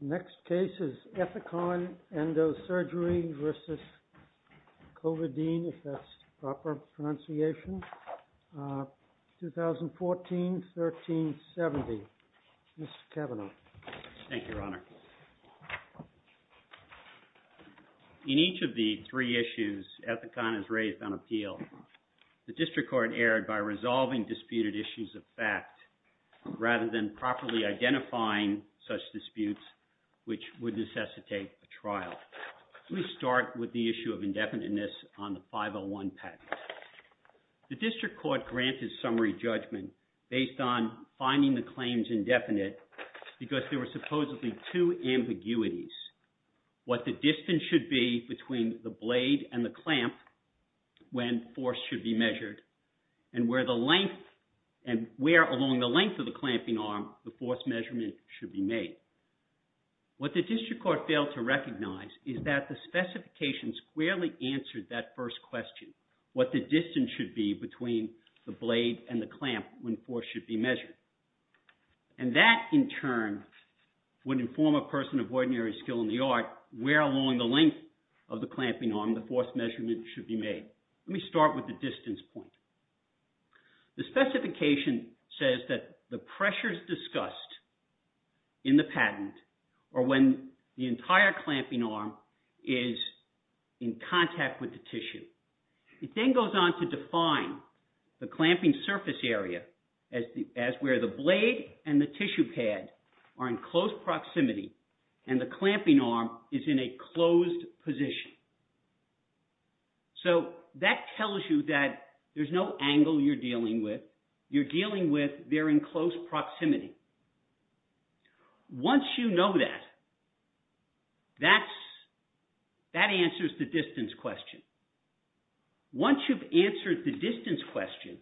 The next case is Ethicon Endosurgery vs. Covadine, if that's the proper pronunciation, uh, 2014-13-70. Mr. Kavanaugh. Thank you, Your Honor. In each of the three issues, Ethicon is raised on appeal. The District Court erred by resolving disputed issues of fact rather than properly identifying such disputes which would necessitate a trial. Let me start with the issue of indefiniteness on the 501 patent. The District Court granted summary judgment based on finding the claims indefinite because there were supposedly two ambiguities. What the distance should be between the blade and the clamp when force should be measured and where the length and where along the length of the clamping arm the force measurement should be made. What the District Court failed to recognize is that the specifications squarely answered that first question, what the distance should be between the blade and the clamp when force should be measured. And that, in turn, would inform a person of ordinary skill in the art where along the length of the clamping arm the force measurement should be made. Let me start with the distance point. The specification says that the pressures discussed in the patent are when the entire clamping arm is in contact with the tissue. It then goes on to define the clamping surface area as where the blade and the tissue pad are in close proximity and the clamping arm is in a closed position. So that tells you that there's no angle you're dealing with. You're dealing with they're in close proximity. Once you know that, that answers the distance question. Once you've answered the distance question,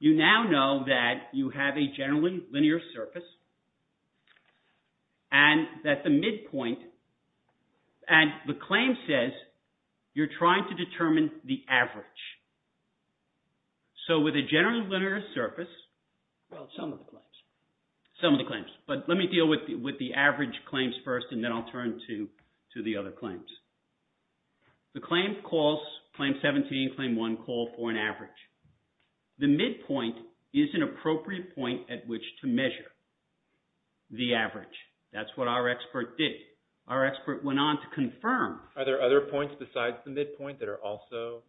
you now know that you have a generally linear surface and that the midpoint and the claim says you're trying to determine the average. So with a generally linear surface, well some of the claims, some of the claims, but let me deal with the average claims first and then I'll turn to the other claims. The claim calls, claim 17, claim 1 call for an average. The midpoint is an appropriate point at which to measure the average. That's what our expert did. Our expert went on to confirm. Are there other points besides the midpoint that are also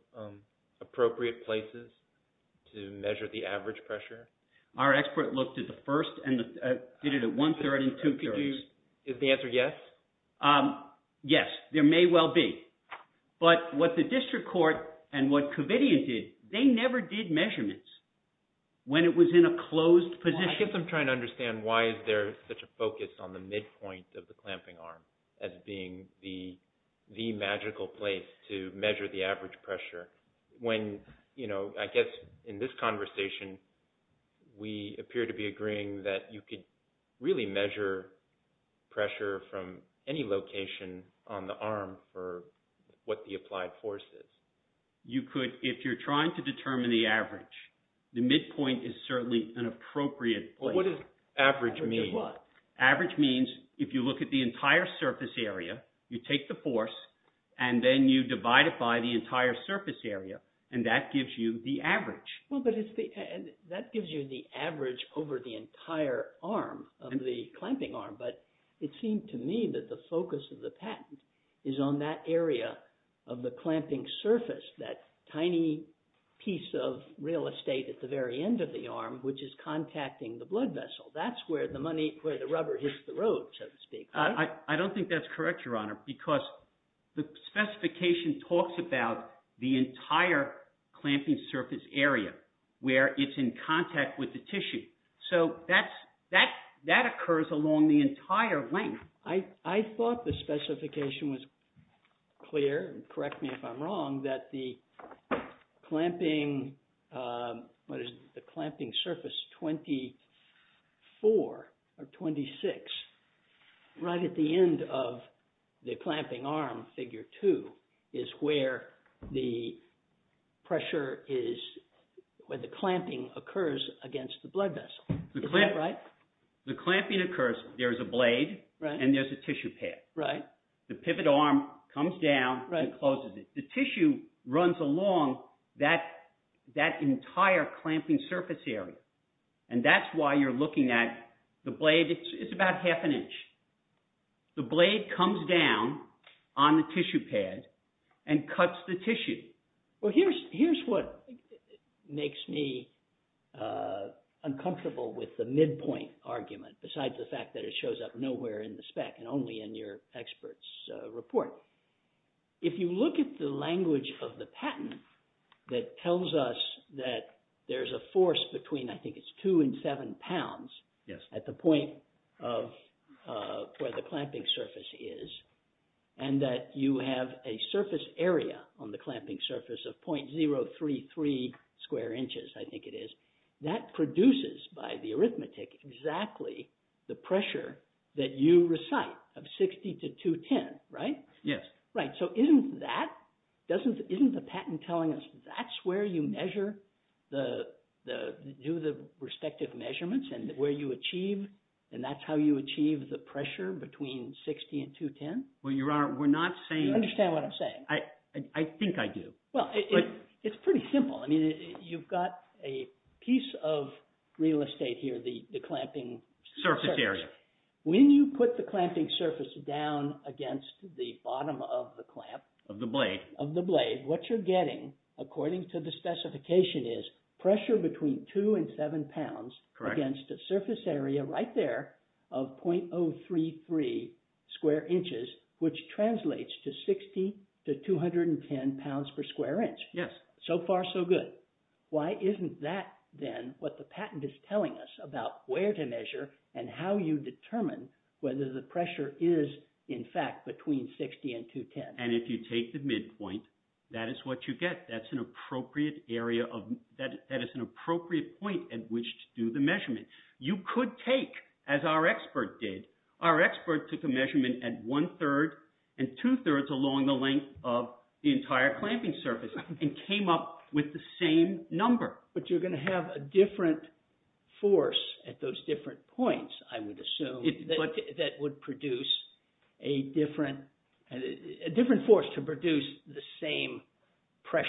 appropriate places to measure the average pressure? Our expert looked at the first and did it at one-third and two-thirds. Is the answer yes? Yes, there may well be. But what the district court and what Covidien did, they never did measurements when it was in a closed position. I guess I'm trying to understand why is there such a focus on the midpoint of the clamping arm as being the magical place to measure the average pressure. When, you know, I guess in this conversation, we appear to be agreeing that you could really measure pressure from any location on the arm for what the applied force is. You could, if you're trying to determine the average, the midpoint is certainly an appropriate place. What does average mean? Average means if you look at the entire surface area, you take the force, and then you divide it by the entire surface area, and that gives you the average. Well, but that gives you the average over the entire arm of the clamping arm. But it seemed to me that the focus of the patent is on that area of the clamping surface, that tiny piece of real estate at the very end of the arm, which is contacting the blood vessel. That's where the rubber hits the road, so to speak. I don't think that's correct, Your Honor, because the specification talks about the entire clamping surface area where it's in contact with the tissue. So that occurs along the entire length. I thought the specification was clear, and correct me if I'm wrong, that the clamping surface 24 or 26, right at the end of the clamping arm, figure 2, is where the pressure is, where the clamping occurs against the blood vessel. Is that right? Right. The clamping occurs. There's a blade, and there's a tissue pad. Right. The pivot arm comes down and closes it. The tissue runs along that entire clamping surface area, and that's why you're looking at the blade. It's about half an inch. The blade comes down on the tissue pad and cuts the tissue. Well, here's what makes me uncomfortable with the midpoint argument, besides the fact that it shows up nowhere in the spec and only in your expert's report. If you look at the language of the patent that tells us that there's a force between, I think it's 2 and 7 pounds at the point of where the clamping surface is, and that you have a surface area on the clamping surface of .033 square inches, I think it is, that produces, by the arithmetic, exactly the pressure that you recite of 60 to 210, right? Yes. Right. So isn't that, isn't the patent telling us that's where you measure, do the respective measurements, and where you achieve, and that's how you achieve the pressure between 60 and 210? Well, you are, we're not saying- You understand what I'm saying? I think I do. Well, it's pretty simple. I mean, you've got a piece of real estate here, the clamping- Surface area. When you put the clamping surface down against the bottom of the clamp- Of the blade. Of the blade, what you're getting, according to the specification, is pressure between 2 and 7 pounds against a surface area right there of .033 square inches, which translates to 60 to 210 pounds per square inch. Yes. So far, so good. Why isn't that, then, what the patent is telling us about where to measure and how you determine whether the pressure is, in fact, between 60 and 210? And if you take the midpoint, that is what you get. That's an appropriate area of, that is an appropriate point at which to do the measurement. You could take, as our expert did, our expert took a measurement at one-third and two-thirds along the length of the entire clamping surface and came up with the same number. But you're going to have a different force at those different points, I would assume, that would produce a different force to produce the same pressure.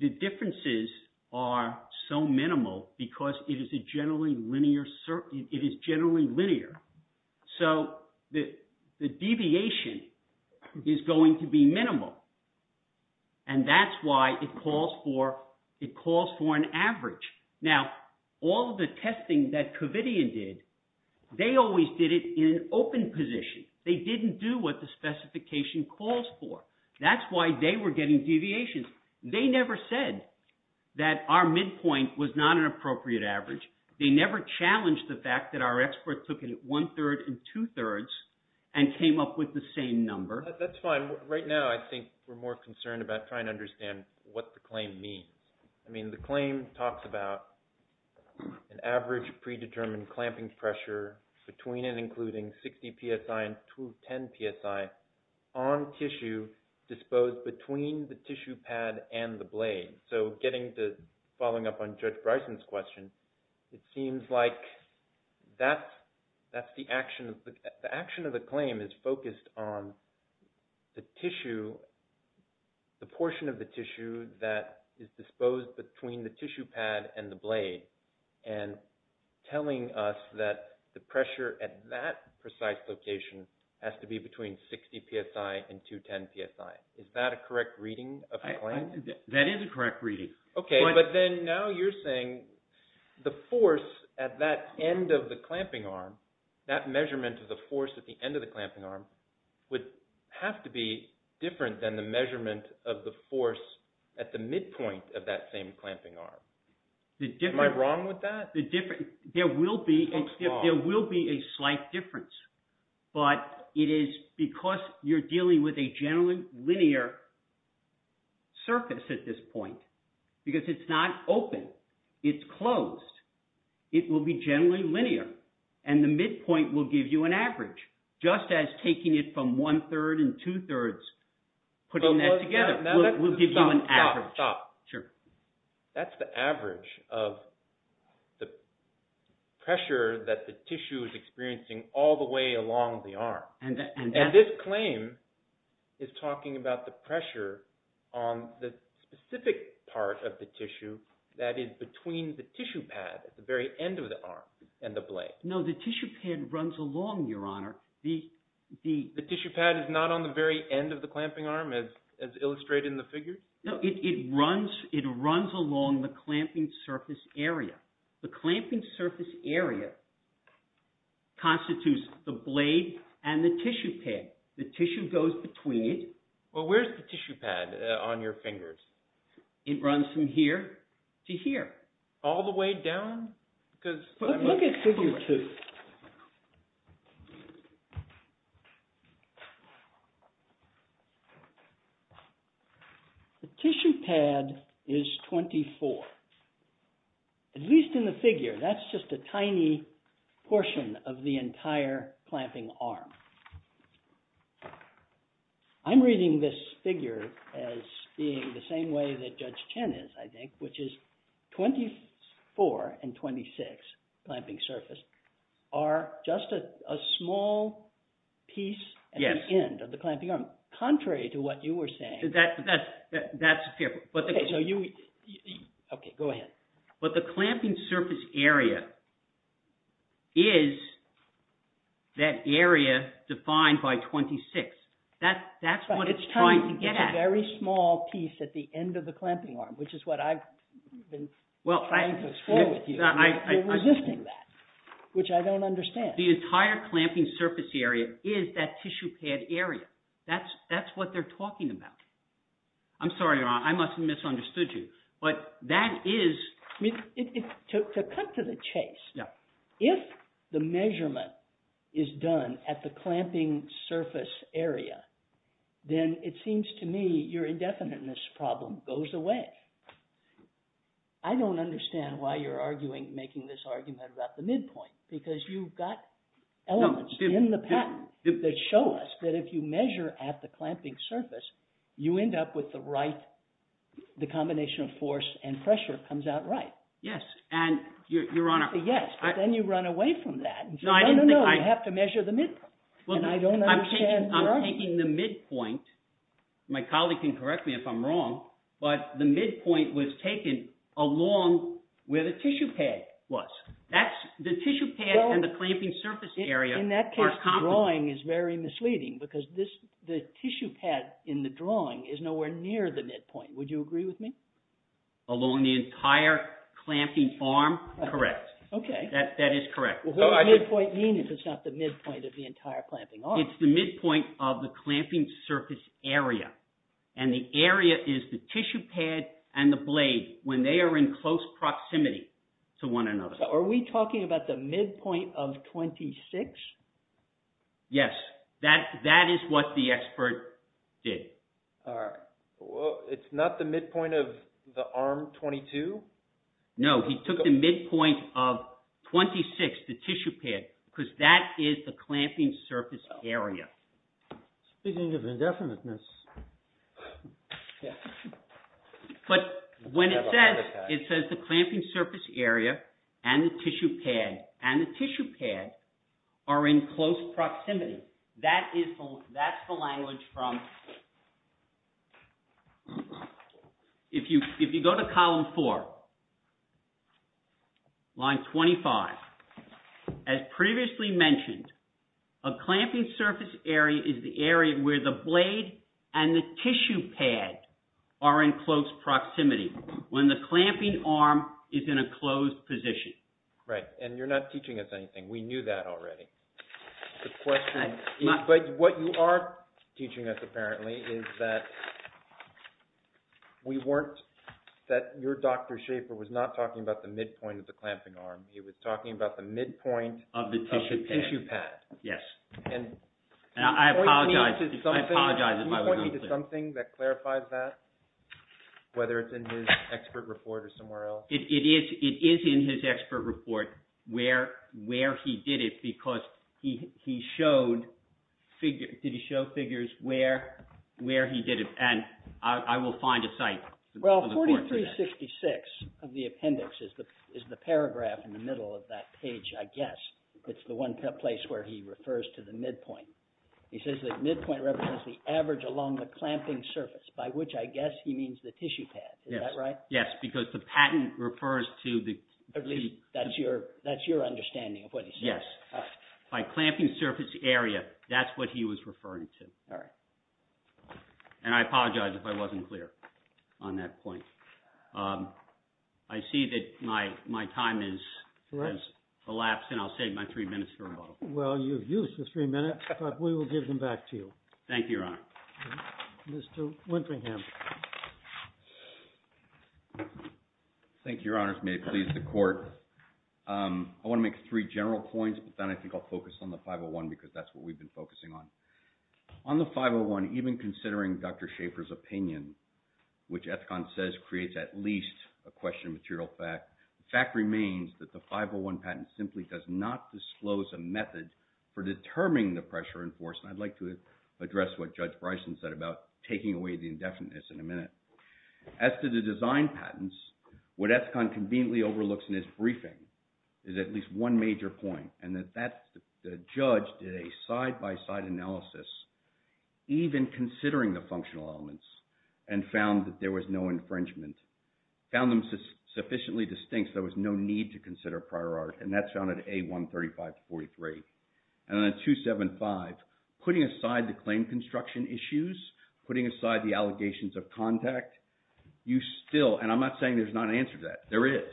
The differences are so minimal because it is a generally linear, it is generally linear. So the deviation is going to be minimal. And that's why it calls for, it calls for an average. Now, all the testing that Covidian did, they always did it in an open position. They didn't do what the specification calls for. That's why they were getting deviations. They never said that our midpoint was not an appropriate average. They never challenged the fact that our expert took it at one-third and two-thirds and came up with the same number. That's fine. Right now, I think we're more concerned about trying to understand what the claim means. I mean, the claim talks about an average predetermined clamping pressure between and including 60 PSI and 10 PSI on tissue disposed between the tissue pad and the blade. So following up on Judge Bryson's question, it seems like that's the action. The action of the claim is focused on the tissue, the portion of the tissue that is disposed between the tissue pad and the blade, and telling us that the pressure at that precise location has to be between 60 PSI and 210 PSI. Is that a correct reading of the claim? That is a correct reading. Okay, but then now you're saying the force at that end of the clamping arm, that measurement of the force at the end of the clamping arm, would have to be different than the measurement of the force at the midpoint of that same clamping arm. Am I wrong with that? There will be a slight difference, but it is because you're dealing with a generally linear surface at this point, because it's not open. It's closed. It will be generally linear, and the midpoint will give you an average, just as taking it from one-third and two-thirds, putting that together, will give you an average. That's the average of the pressure that the tissue is experiencing all the way along the arm. And this claim is talking about the pressure on the specific part of the tissue that is between the tissue pad at the very end of the arm and the blade. No, the tissue pad runs along, Your Honor. The tissue pad is not on the very end of the clamping arm, as illustrated in the figure? No, it runs along the clamping surface area. The clamping surface area constitutes the blade and the tissue pad. The tissue goes between it. Well, where's the tissue pad on your fingers? It runs from here to here. All the way down? Look at figure two. The tissue pad is 24, at least in the figure. That's just a tiny portion of the entire clamping arm. I'm reading this figure as being the same way that Judge Chen is, I think, which is 24 and 26, clamping surface, are just a small piece at the end of the clamping arm. Contrary to what you were saying. That's a fair point. Okay, go ahead. But the clamping surface area is that area defined by 26. That's what it's trying to get at. It's a very small piece at the end of the clamping arm, which is what I've been trying to explore with you. You're resisting that, which I don't understand. The entire clamping surface area is that tissue pad area. That's what they're talking about. I'm sorry, Ron, I must have misunderstood you. But that is... To cut to the chase, if the measurement is done at the clamping surface area, then it seems to me your indefiniteness problem goes away. I don't understand why you're making this argument about the midpoint. Because you've got elements in the patent that show us that if you measure at the clamping surface, you end up with the right... The combination of force and pressure comes out right. Yes, and Your Honor... Yes, but then you run away from that and say, no, no, no, you have to measure the midpoint. And I don't understand your argument. I'm taking the midpoint. My colleague can correct me if I'm wrong, but the midpoint was taken along where the tissue pad was. The tissue pad and the clamping surface area... In that case, the drawing is very misleading, because the tissue pad in the drawing is nowhere near the midpoint. Would you agree with me? Along the entire clamping arm? Correct. Okay. That is correct. What does midpoint mean if it's not the midpoint of the entire clamping arm? It's the midpoint of the clamping surface area. And the area is the tissue pad and the blade when they are in close proximity to one another. So are we talking about the midpoint of 26? Yes. That is what the expert did. All right. Well, it's not the midpoint of the arm 22? No. He took the midpoint of 26, the tissue pad, because that is the clamping surface area. Speaking of indefiniteness... But when it says, it says the clamping surface area and the tissue pad, and the tissue pad are in close proximity. That's the language from... If you go to column 4, line 25, as previously mentioned, a clamping surface area is the area where the blade and the tissue pad are in close proximity, when the clamping arm is in a closed position. Right. And you're not teaching us anything. We knew that already. The question... But what you are teaching us, apparently, is that we weren't... That your Dr. Schaefer was not talking about the midpoint of the clamping arm. He was talking about the midpoint of the tissue pad. Yes. I apologize. I apologize if I wasn't clear. Can you point me to something that clarifies that, whether it's in his expert report or somewhere else? It is in his expert report where he did it, because he showed figures where he did it. And I will find a site. Well, 4366 of the appendix is the paragraph in the middle of that page, I guess. It's the one place where he refers to the midpoint. He says the midpoint represents the average along the clamping surface, by which I guess he means the tissue pad. Is that right? Yes, because the patent refers to the... At least that's your understanding of what he's saying. Yes. By clamping surface area, that's what he was referring to. All right. And I apologize if I wasn't clear on that point. I see that my time has elapsed, and I'll save my three minutes for rebuttal. Well, you've used the three minutes, but we will give them back to you. Thank you, Your Honor. Mr. Winteringham. Thank you, Your Honors. May it please the Court. I want to make three general points, but then I think I'll focus on the 501 because that's what we've been focusing on. On the 501, even considering Dr. Schaffer's opinion, which Ethcon says creates at least a question of material fact, the fact remains that the 501 patent simply does not disclose a method for determining the pressure in force. And I'd like to address what Judge Bryson said about taking away the indefiniteness in a minute. As to the design patents, what Ethcon conveniently overlooks in his briefing is at least one major point, and that's that the judge did a side-by-side analysis, even considering the functional elements, and found that there was no infringement. Found them sufficiently distinct that there was no need to consider prior art, and that's found at A135-43. And then at 275, putting aside the claim construction issues, putting aside the allegations of contact, you still, and I'm not saying there's not an answer to that. There is.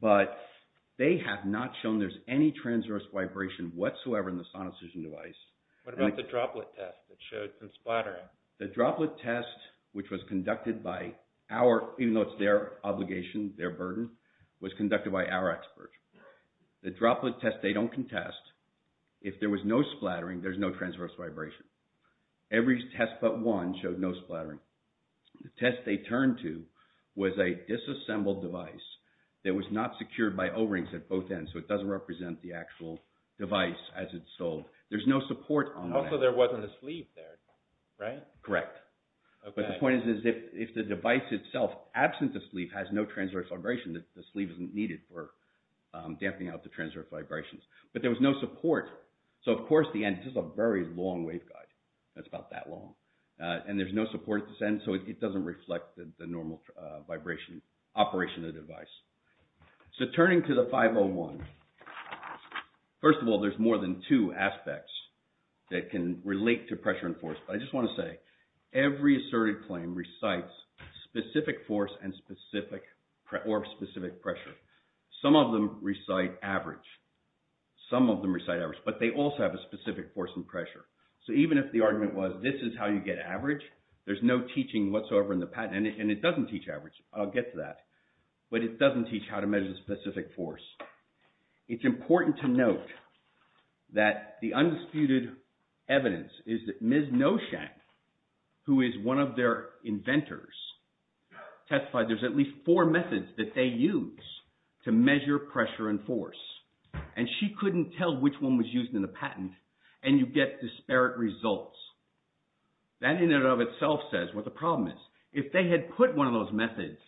But they have not shown there's any transverse vibration whatsoever in the sonicision device. What about the droplet test that showed some splattering? The droplet test, which was conducted by our, even though it's their obligation, their burden, was conducted by our expert. The droplet test they don't contest. If there was no splattering, there's no transverse vibration. Every test but one showed no splattering. The test they turned to was a disassembled device that was not secured by O-rings at both ends, so it doesn't represent the actual device as it's sold. There's no support on that. Also, there wasn't a sleeve there, right? Correct. But the point is if the device itself, absent the sleeve, has no transverse vibration, the sleeve isn't needed for damping out the transverse vibrations. But there was no support, so of course the end, this is a very long waveguide. It's about that long. And there's no support at this end, so it doesn't reflect the normal vibration operation of the device. So turning to the 501, first of all, there's more than two aspects that can relate to pressure and force. I just want to say every asserted claim recites specific force or specific pressure. Some of them recite average. Some of them recite average, but they also have a specific force and pressure. So even if the argument was this is how you get average, there's no teaching whatsoever in the patent, and it doesn't teach average. I'll get to that. But it doesn't teach how to measure specific force. It's important to note that the undisputed evidence is that Ms. Noshank, who is one of their inventors, testified there's at least four methods that they use to measure pressure and force. And she couldn't tell which one was used in the patent, and you get disparate results. That in and of itself says what the problem is. If they had put one of those methods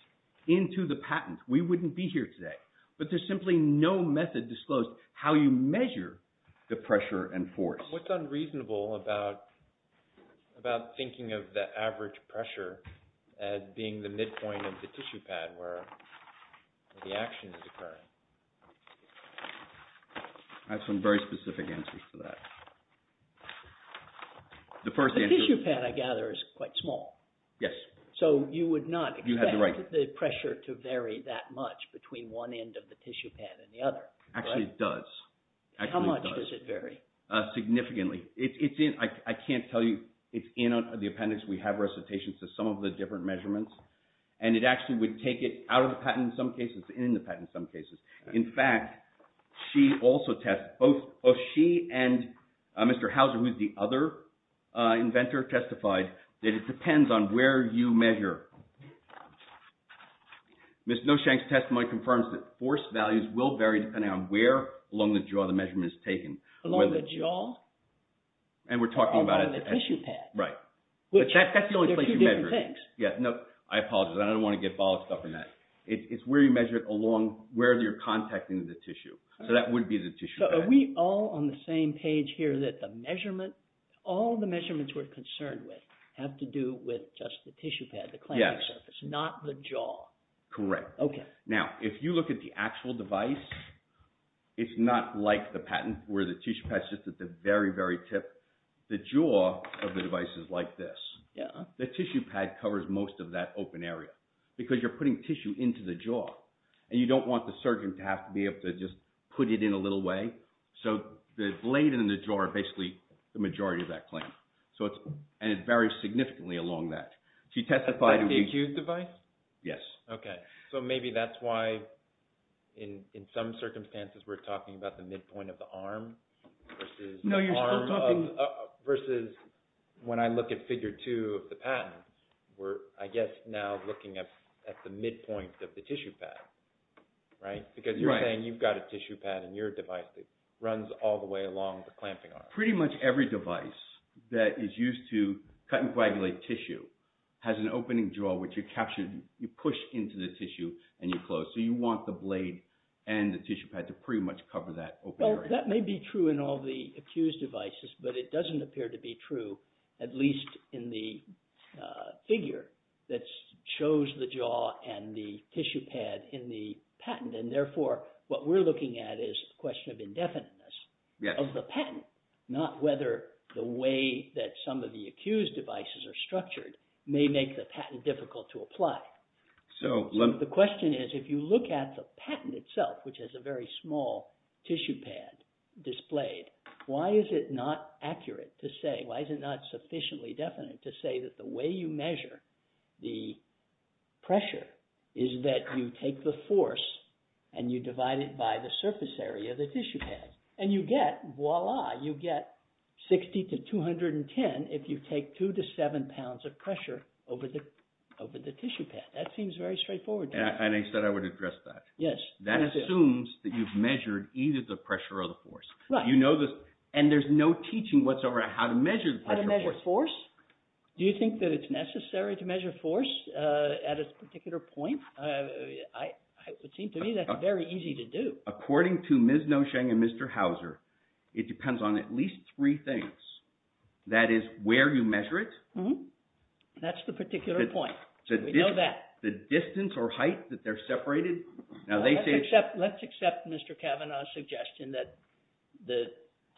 into the patent, we wouldn't be here today. But there's simply no method disclosed how you measure the pressure and force. What's unreasonable about thinking of the average pressure as being the midpoint of the tissue pad where the action is occurring? I have some very specific answers to that. The tissue pad, I gather, is quite small. Yes. So you would not expect the pressure to vary that much between one end of the tissue pad and the other. Actually, it does. How much does it vary? Significantly. I can't tell you. It's in the appendix. We have recitations to some of the different measurements. And it actually would take it out of the patent in some cases and in the patent in some cases. In fact, she also tested, both she and Mr. Hauser, who is the other inventor, testified that it depends on where you measure. Ms. Noshank's testimony confirms that force values will vary depending on where along the jaw the measurement is taken. Along the jaw? And we're talking about a tissue pad. Right. That's the only place you measure it. There are two different things. Yes. No, I apologize. I don't want to get bollocked up in that. It's where you measure it along where you're contacting the tissue. So that would be the tissue pad. So are we all on the same page here that all the measurements we're concerned with have to do with just the tissue pad, the clamping surface, not the jaw? Correct. Okay. Now, if you look at the actual device, it's not like the patent where the tissue pad's just at the very, very tip. The jaw of the device is like this. The tissue pad covers most of that open area. Because you're putting tissue into the jaw. And you don't want the surgeon to have to be able to just put it in a little way. So the blade and the jaw are basically the majority of that clamp. So it's – and it varies significantly along that. So you testify to – Like the accused device? Yes. Okay. So maybe that's why in some circumstances we're talking about the midpoint of the arm versus – No, you're still talking – at the midpoint of the tissue pad, right? Right. Because you're saying you've got a tissue pad in your device that runs all the way along the clamping arm. Pretty much every device that is used to cut and coagulate tissue has an opening jaw, which you capture – you push into the tissue and you close. So you want the blade and the tissue pad to pretty much cover that open area. Well, that may be true in all the accused devices, but it doesn't appear to be true, at least in the figure that shows the jaw and the tissue pad in the patent. And therefore, what we're looking at is a question of indefiniteness of the patent, not whether the way that some of the accused devices are structured may make the patent difficult to apply. The question is, if you look at the patent itself, which has a very small tissue pad displayed, why is it not accurate to say – why is it not sufficiently definite to say that the way you measure the pressure is that you take the force and you divide it by the surface area of the tissue pad? And you get – voila – you get 60 to 210 if you take 2 to 7 pounds of pressure over the tissue pad. That seems very straightforward to me. And I said I would address that. Yes. That assumes that you've measured either the pressure or the force. Right. And there's no teaching whatsoever on how to measure the pressure or the force. How to measure force? Do you think that it's necessary to measure force at a particular point? It would seem to me that's very easy to do. According to Ms. Nosheng and Mr. Hauser, it depends on at least three things. That is, where you measure it. That's the particular point. We know that. The distance or height that they're separated. Let's accept Mr. Kavanaugh's suggestion that the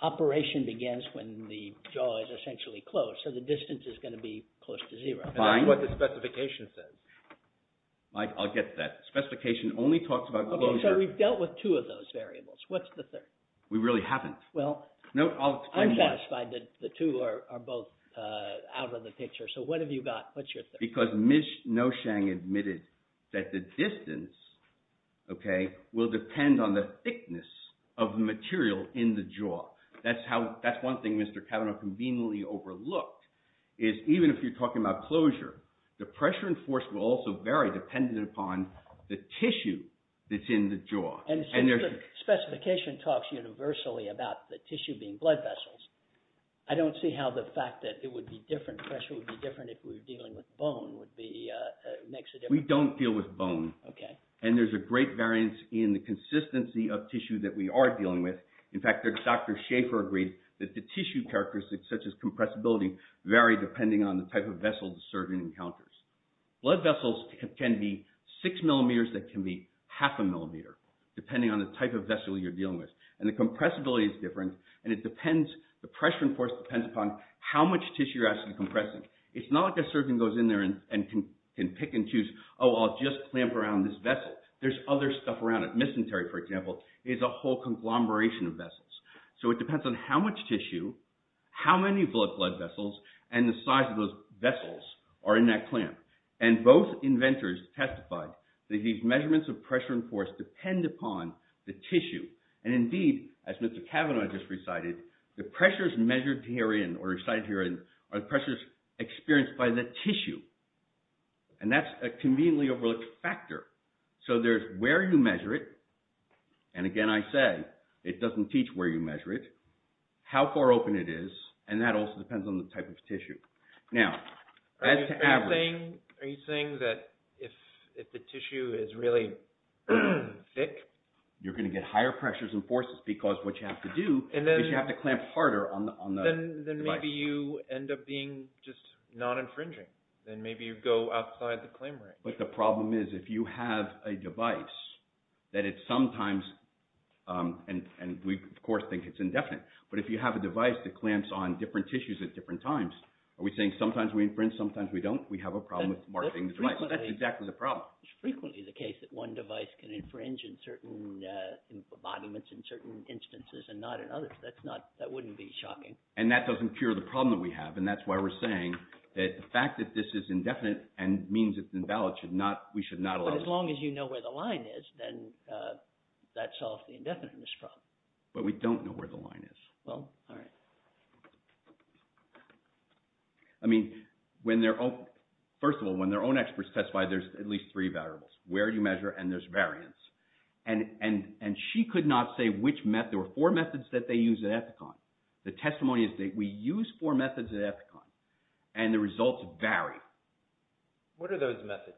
operation begins when the jaw is essentially closed, so the distance is going to be close to zero. Fine. That's what the specification says. I'll get to that. The specification only talks about closure. So we've dealt with two of those variables. What's the third? We really haven't. Well, I'm satisfied that the two are both out of the picture. So what have you got? What's your third? Because Ms. Nosheng admitted that the distance will depend on the thickness of the material in the jaw. That's one thing Mr. Kavanaugh conveniently overlooked, is even if you're talking about closure, the pressure and force will also vary dependent upon the tissue that's in the jaw. And since the specification talks universally about the tissue being blood vessels, I don't see how the fact that it would be different, pressure would be different if we were dealing with bone would make a difference. We don't deal with bone. Okay. And there's a great variance in the consistency of tissue that we are dealing with. In fact, Dr. Schaefer agreed that the tissue characteristics, such as compressibility, vary depending on the type of vessel the surgeon encounters. Blood vessels can be six millimeters, they can be half a millimeter, depending on the type of vessel you're dealing with. And the compressibility is different, and it depends, the pressure and force depends upon how much tissue you're actually compressing. It's not like a surgeon goes in there and can pick and choose, oh, I'll just clamp around this vessel. There's other stuff around it. Miscentery, for example, is a whole conglomeration of vessels. So it depends on how much tissue, how many blood vessels, and the size of those vessels are in that clamp. And both inventors testified that these measurements of pressure and force depend upon the tissue. And indeed, as Mr. Cavanaugh just recited, the pressures measured herein, or recited herein, are the pressures experienced by the tissue. And that's a conveniently overlooked factor. So there's where you measure it, and again, I say, it doesn't teach where you measure it, how far open it is, and that also depends on the type of tissue. Now, as to average… Are you saying that if the tissue is really thick… You're going to get higher pressures and forces because what you have to do is you have to clamp harder on the device. Then maybe you end up being just non-infringing. Then maybe you go outside the claim range. But the problem is if you have a device that it sometimes – and we, of course, think it's indefinite – but if you have a device that clamps on different tissues at different times, are we saying sometimes we infringe, sometimes we don't? We have a problem with marking the device. That's exactly the problem. It's frequently the case that one device can infringe in certain embodiments in certain instances and not in others. That's not – that wouldn't be shocking. And that doesn't cure the problem that we have, and that's why we're saying that the fact that this is indefinite and means it's invalid should not – we should not allow it. But as long as you know where the line is, then that solves the indefiniteness problem. But we don't know where the line is. Well, all right. I mean, when their own – first of all, when their own experts testify, there's at least three variables, where you measure, and there's variance. And she could not say which – there were four methods that they used at Epicon. The testimony is that we used four methods at Epicon, and the results vary. What are those methods?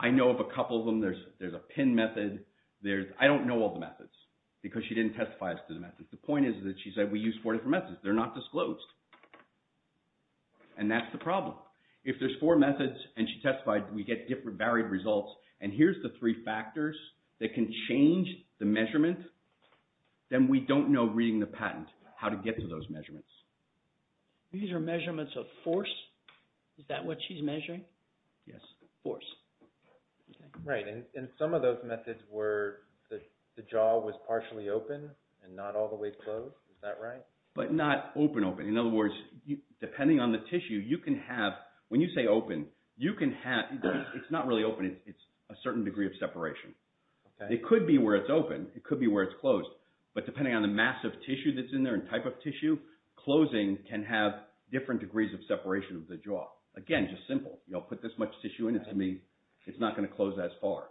I know of a couple of them. There's a pin method. There's – I don't know all the methods because she didn't testify as to the methods. The point is that she said we used four different methods. They're not disclosed. And that's the problem. If there's four methods and she testified, we get different varied results, and here's the three factors that can change the measurement, then we don't know, reading the patent, how to get to those measurements. These are measurements of force? Is that what she's measuring? Yes, force. Right, and some of those methods were the jaw was partially open and not all the way closed. Is that right? But not open-open. In other words, depending on the tissue, you can have – when you say open, you can have – it's not really open. It's a certain degree of separation. Okay. It could be where it's open. It could be where it's closed. But depending on the mass of tissue that's in there and type of tissue, closing can have different degrees of separation of the jaw. Again, just simple. I'll put this much tissue in. To me, it's not going to close that far.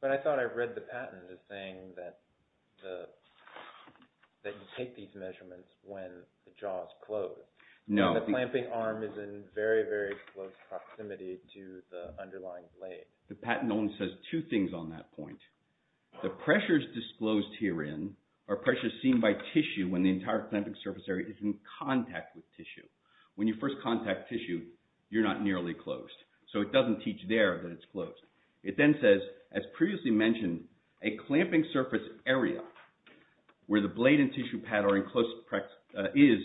But I thought I read the patent as saying that you take these measurements when the jaw is closed. No. The clamping arm is in very, very close proximity to the underlying blade. The patent only says two things on that point. The pressures disclosed herein are pressures seen by tissue when the entire clamping surface area is in contact with tissue. When you first contact tissue, you're not nearly closed. So it doesn't teach there that it's closed. It then says, as previously mentioned, a clamping surface area where the blade and tissue pad are in close – is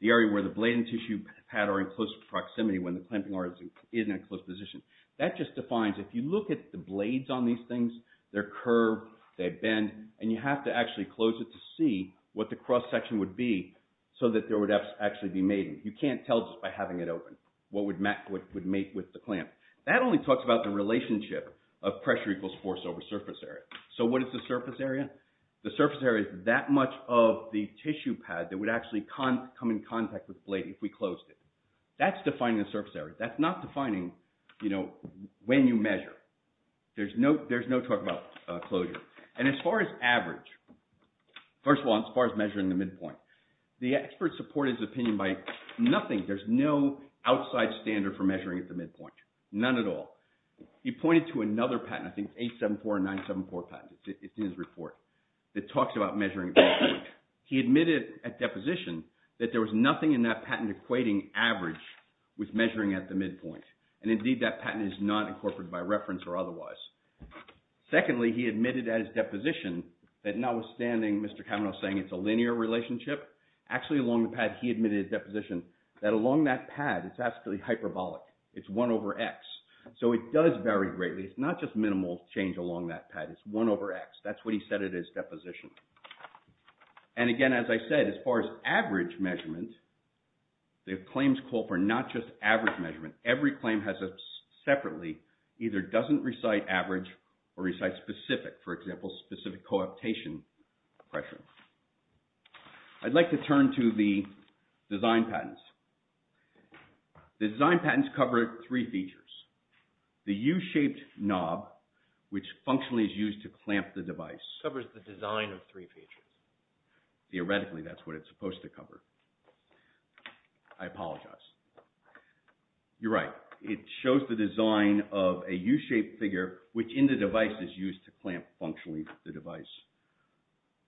the area where the blade and tissue pad are in close proximity when the clamping arm is in a closed position. That just defines – if you look at the blades on these things, they're curved, they bend, and you have to actually close it to see what the cross-section would be so that there would actually be mating. You can't tell just by having it open what would mate with the clamp. That only talks about the relationship of pressure equals force over surface area. So what is the surface area? The surface area is that much of the tissue pad that would actually come in contact with the blade if we closed it. That's defining the surface area. That's not defining when you measure. There's no talk about closure. And as far as average – first of all, as far as measuring the midpoint, the expert supported his opinion by nothing. There's no outside standard for measuring at the midpoint. None at all. He pointed to another patent – I think it's 874 or 974 patent. It's in his report. It talks about measuring at the midpoint. He admitted at deposition that there was nothing in that patent equating average with measuring at the midpoint. And indeed, that patent is not incorporated by reference or otherwise. Secondly, he admitted at his deposition that notwithstanding Mr. Kamenow saying it's a linear relationship, actually along the pad he admitted at deposition that along that pad it's actually hyperbolic. It's 1 over x. So it does vary greatly. It's not just minimal change along that pad. It's 1 over x. That's what he said at his deposition. And again, as I said, as far as average measurement, the claims call for not just average measurement. Every claim has separately either doesn't recite average or recites specific. For example, specific coaptation pressure. I'd like to turn to the design patents. The design patents cover three features. The u-shaped knob, which functionally is used to clamp the device. It covers the design of three features. Theoretically, that's what it's supposed to cover. I apologize. You're right. It shows the design of a u-shaped figure, which in the device is used to clamp functionally the device.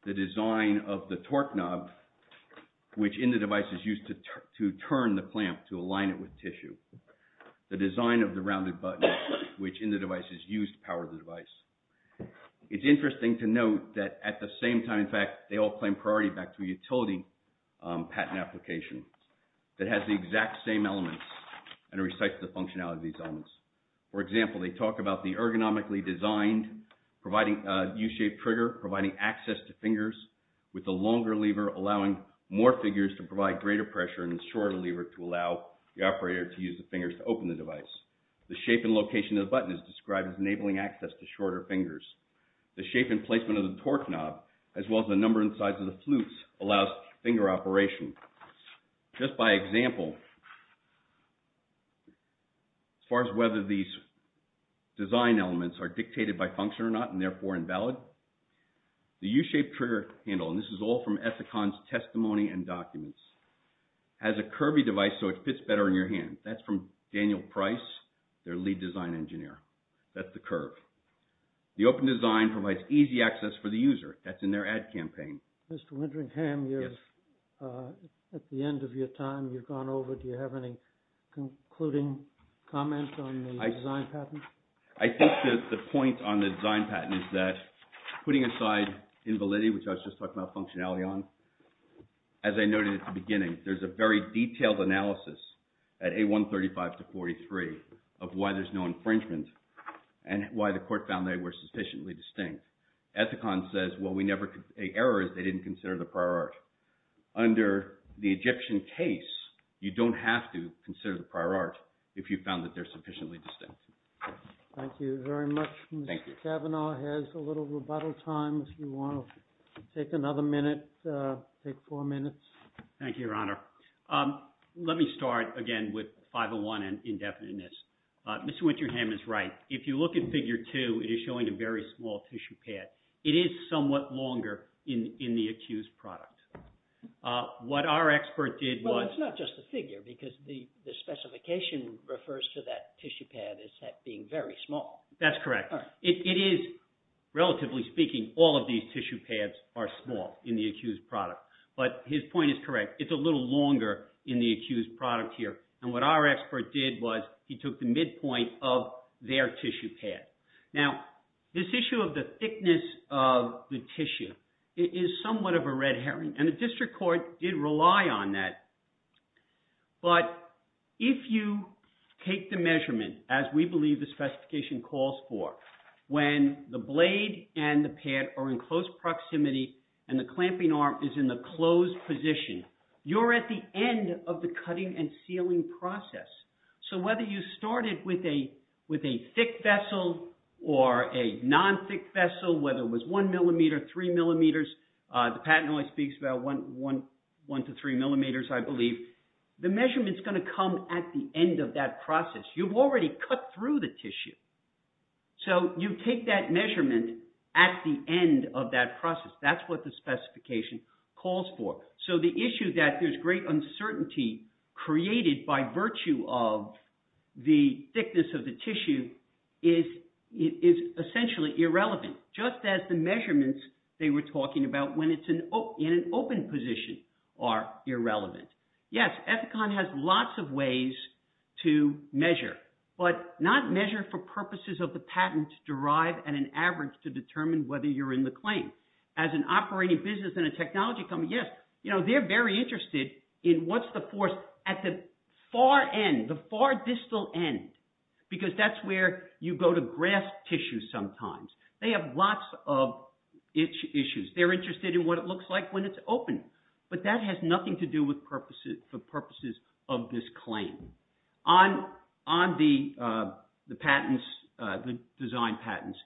The design of the torque knob, which in the device is used to turn the clamp to align it with tissue. The design of the rounded button, which in the device is used to power the device. It's interesting to note that at the same time, in fact, they all claim priority back to a utility patent application that has the exact same elements and recites the functionality of these elements. For example, they talk about the ergonomically designed u-shaped trigger providing access to fingers with the longer lever allowing more figures to provide greater pressure and the shorter lever to allow the operator to use the fingers to open the device. The shape and location of the button is described as enabling access to shorter fingers. The shape and placement of the torque knob as well as the number and size of the flutes allows finger operation. Just by example, as far as whether these design elements are dictated by function or not and therefore invalid, the u-shaped trigger handle, and this is all from Ethicon's testimony and documents, has a curvy device so it fits better in your hand. That's from Daniel Price, their lead design engineer. That's the curve. The open design provides easy access for the user. That's in their ad campaign. Mr. Winteringham, at the end of your time, you've gone over. Do you have any concluding comments on the design patent? I think that the point on the design patent is that putting aside invalidity, which I was just talking about functionality on, as I noted at the beginning, there's a very detailed analysis at A135 to 43 of why there's no infringement and why the court found they were sufficiently distinct. Ethicon says, well, a error is they didn't consider the prior art. Under the Egyptian case, you don't have to consider the prior art if you found that they're sufficiently distinct. Thank you very much. Thank you. Mr. Kavanaugh has a little rebuttal time if you want to take another minute, take four minutes. Thank you, Your Honor. Let me start again with 501 and indefiniteness. Mr. Winteringham is right. If you look at Figure 2, it is showing a very small tissue pad. It is somewhat longer in the accused product. What our expert did was— Well, it's not just the figure because the specification refers to that tissue pad as being very small. That's correct. It is, relatively speaking, all of these tissue pads are small in the accused product. But his point is correct. It's a little longer in the accused product here. And what our expert did was he took the midpoint of their tissue pad. Now, this issue of the thickness of the tissue is somewhat of a red herring, and the district court did rely on that. But if you take the measurement, as we believe the specification calls for, when the blade and the pad are in close proximity and the clamping arm is in the closed position, you're at the end of the cutting and sealing process. So whether you started with a thick vessel or a non-thick vessel, whether it was 1 millimeter, 3 millimeters— The patent only speaks about 1 to 3 millimeters, I believe. The measurement is going to come at the end of that process. You've already cut through the tissue. So you take that measurement at the end of that process. That's what the specification calls for. So the issue that there's great uncertainty created by virtue of the thickness of the tissue is essentially irrelevant, just as the measurements they were talking about when it's in an open position are irrelevant. Yes, Ethicon has lots of ways to measure, but not measure for purposes of the patent derived at an average to determine whether you're in the claim. As an operating business and a technology company, yes, they're very interested in what's the force at the far end, the far distal end, because that's where you go to grasp tissue sometimes. They have lots of issues. They're interested in what it looks like when it's open, but that has nothing to do with purposes of this claim. On the design patents,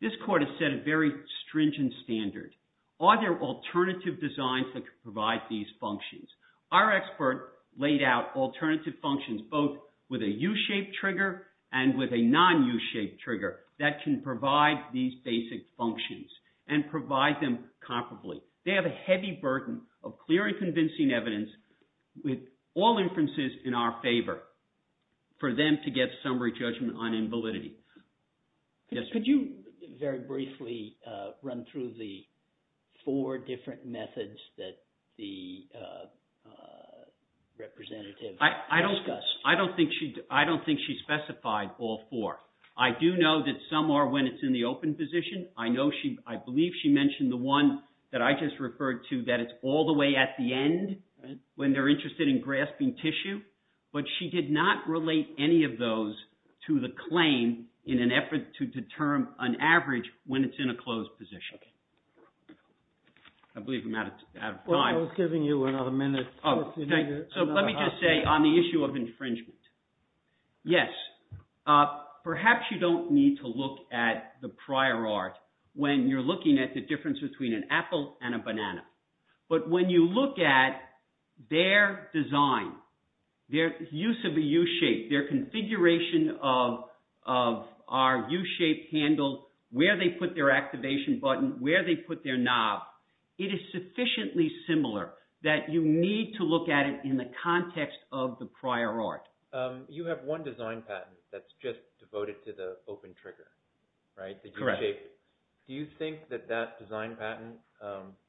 this court has set a very stringent standard. Are there alternative designs that can provide these functions? Our expert laid out alternative functions both with a U-shaped trigger and with a non-U-shaped trigger that can provide these basic functions and provide them comparably. They have a heavy burden of clear and convincing evidence with all inferences in our favor for them to get summary judgment on invalidity. Could you very briefly run through the four different methods that the representative discussed? I don't think she specified all four. I do know that some are when it's in the open position. I know she – I believe she mentioned the one that I just referred to that it's all the way at the end when they're interested in grasping tissue. But she did not relate any of those to the claim in an effort to determine an average when it's in a closed position. I believe I'm out of time. Well, I was giving you another minute. Oh, okay. So let me just say on the issue of infringement. Yes, perhaps you don't need to look at the prior art when you're looking at the difference between an apple and a banana. But when you look at their design, their use of a U-shape, their configuration of our U-shaped handle, where they put their activation button, where they put their knob, it is sufficiently similar that you need to look at it in the context of the prior art. You have one design patent that's just devoted to the open trigger, right? Correct. The U-shape. Do you think that that design patent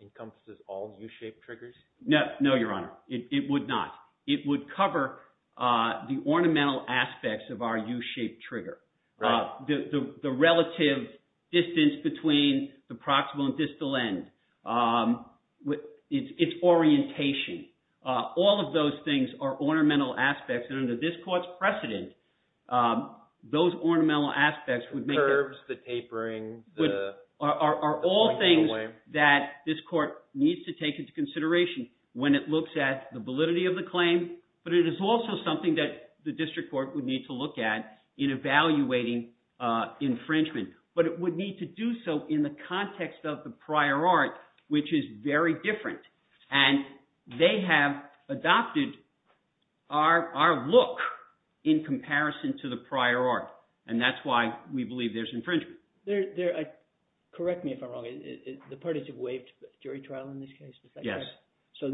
encompasses all U-shaped triggers? No, Your Honor. It would not. It would cover the ornamental aspects of our U-shaped trigger. The relative distance between the proximal and distal end. Its orientation. All of those things are ornamental aspects, and under this court's precedent, those ornamental aspects would make it— The curves, the tapering, the pointing away. Are all things that this court needs to take into consideration when it looks at the validity of the claim. But it is also something that the district court would need to look at in evaluating infringement. But it would need to do so in the context of the prior art, which is very different. And they have adopted our look in comparison to the prior art, and that's why we believe there's infringement. Correct me if I'm wrong. The parties have waived jury trial in this case, is that correct? Yes. So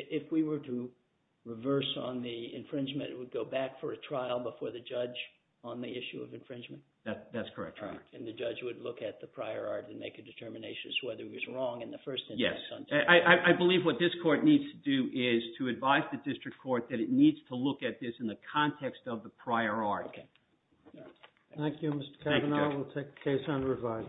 if we were to reverse on the infringement, it would go back for a trial before the judge on the issue of infringement? That's correct, Your Honor. And the judge would look at the prior art and make a determination as to whether it was wrong in the first instance. Yes. I believe what this court needs to do is to advise the district court that it needs to look at this in the context of the prior art. Thank you, Mr. Cavanaugh. We'll take the case under review.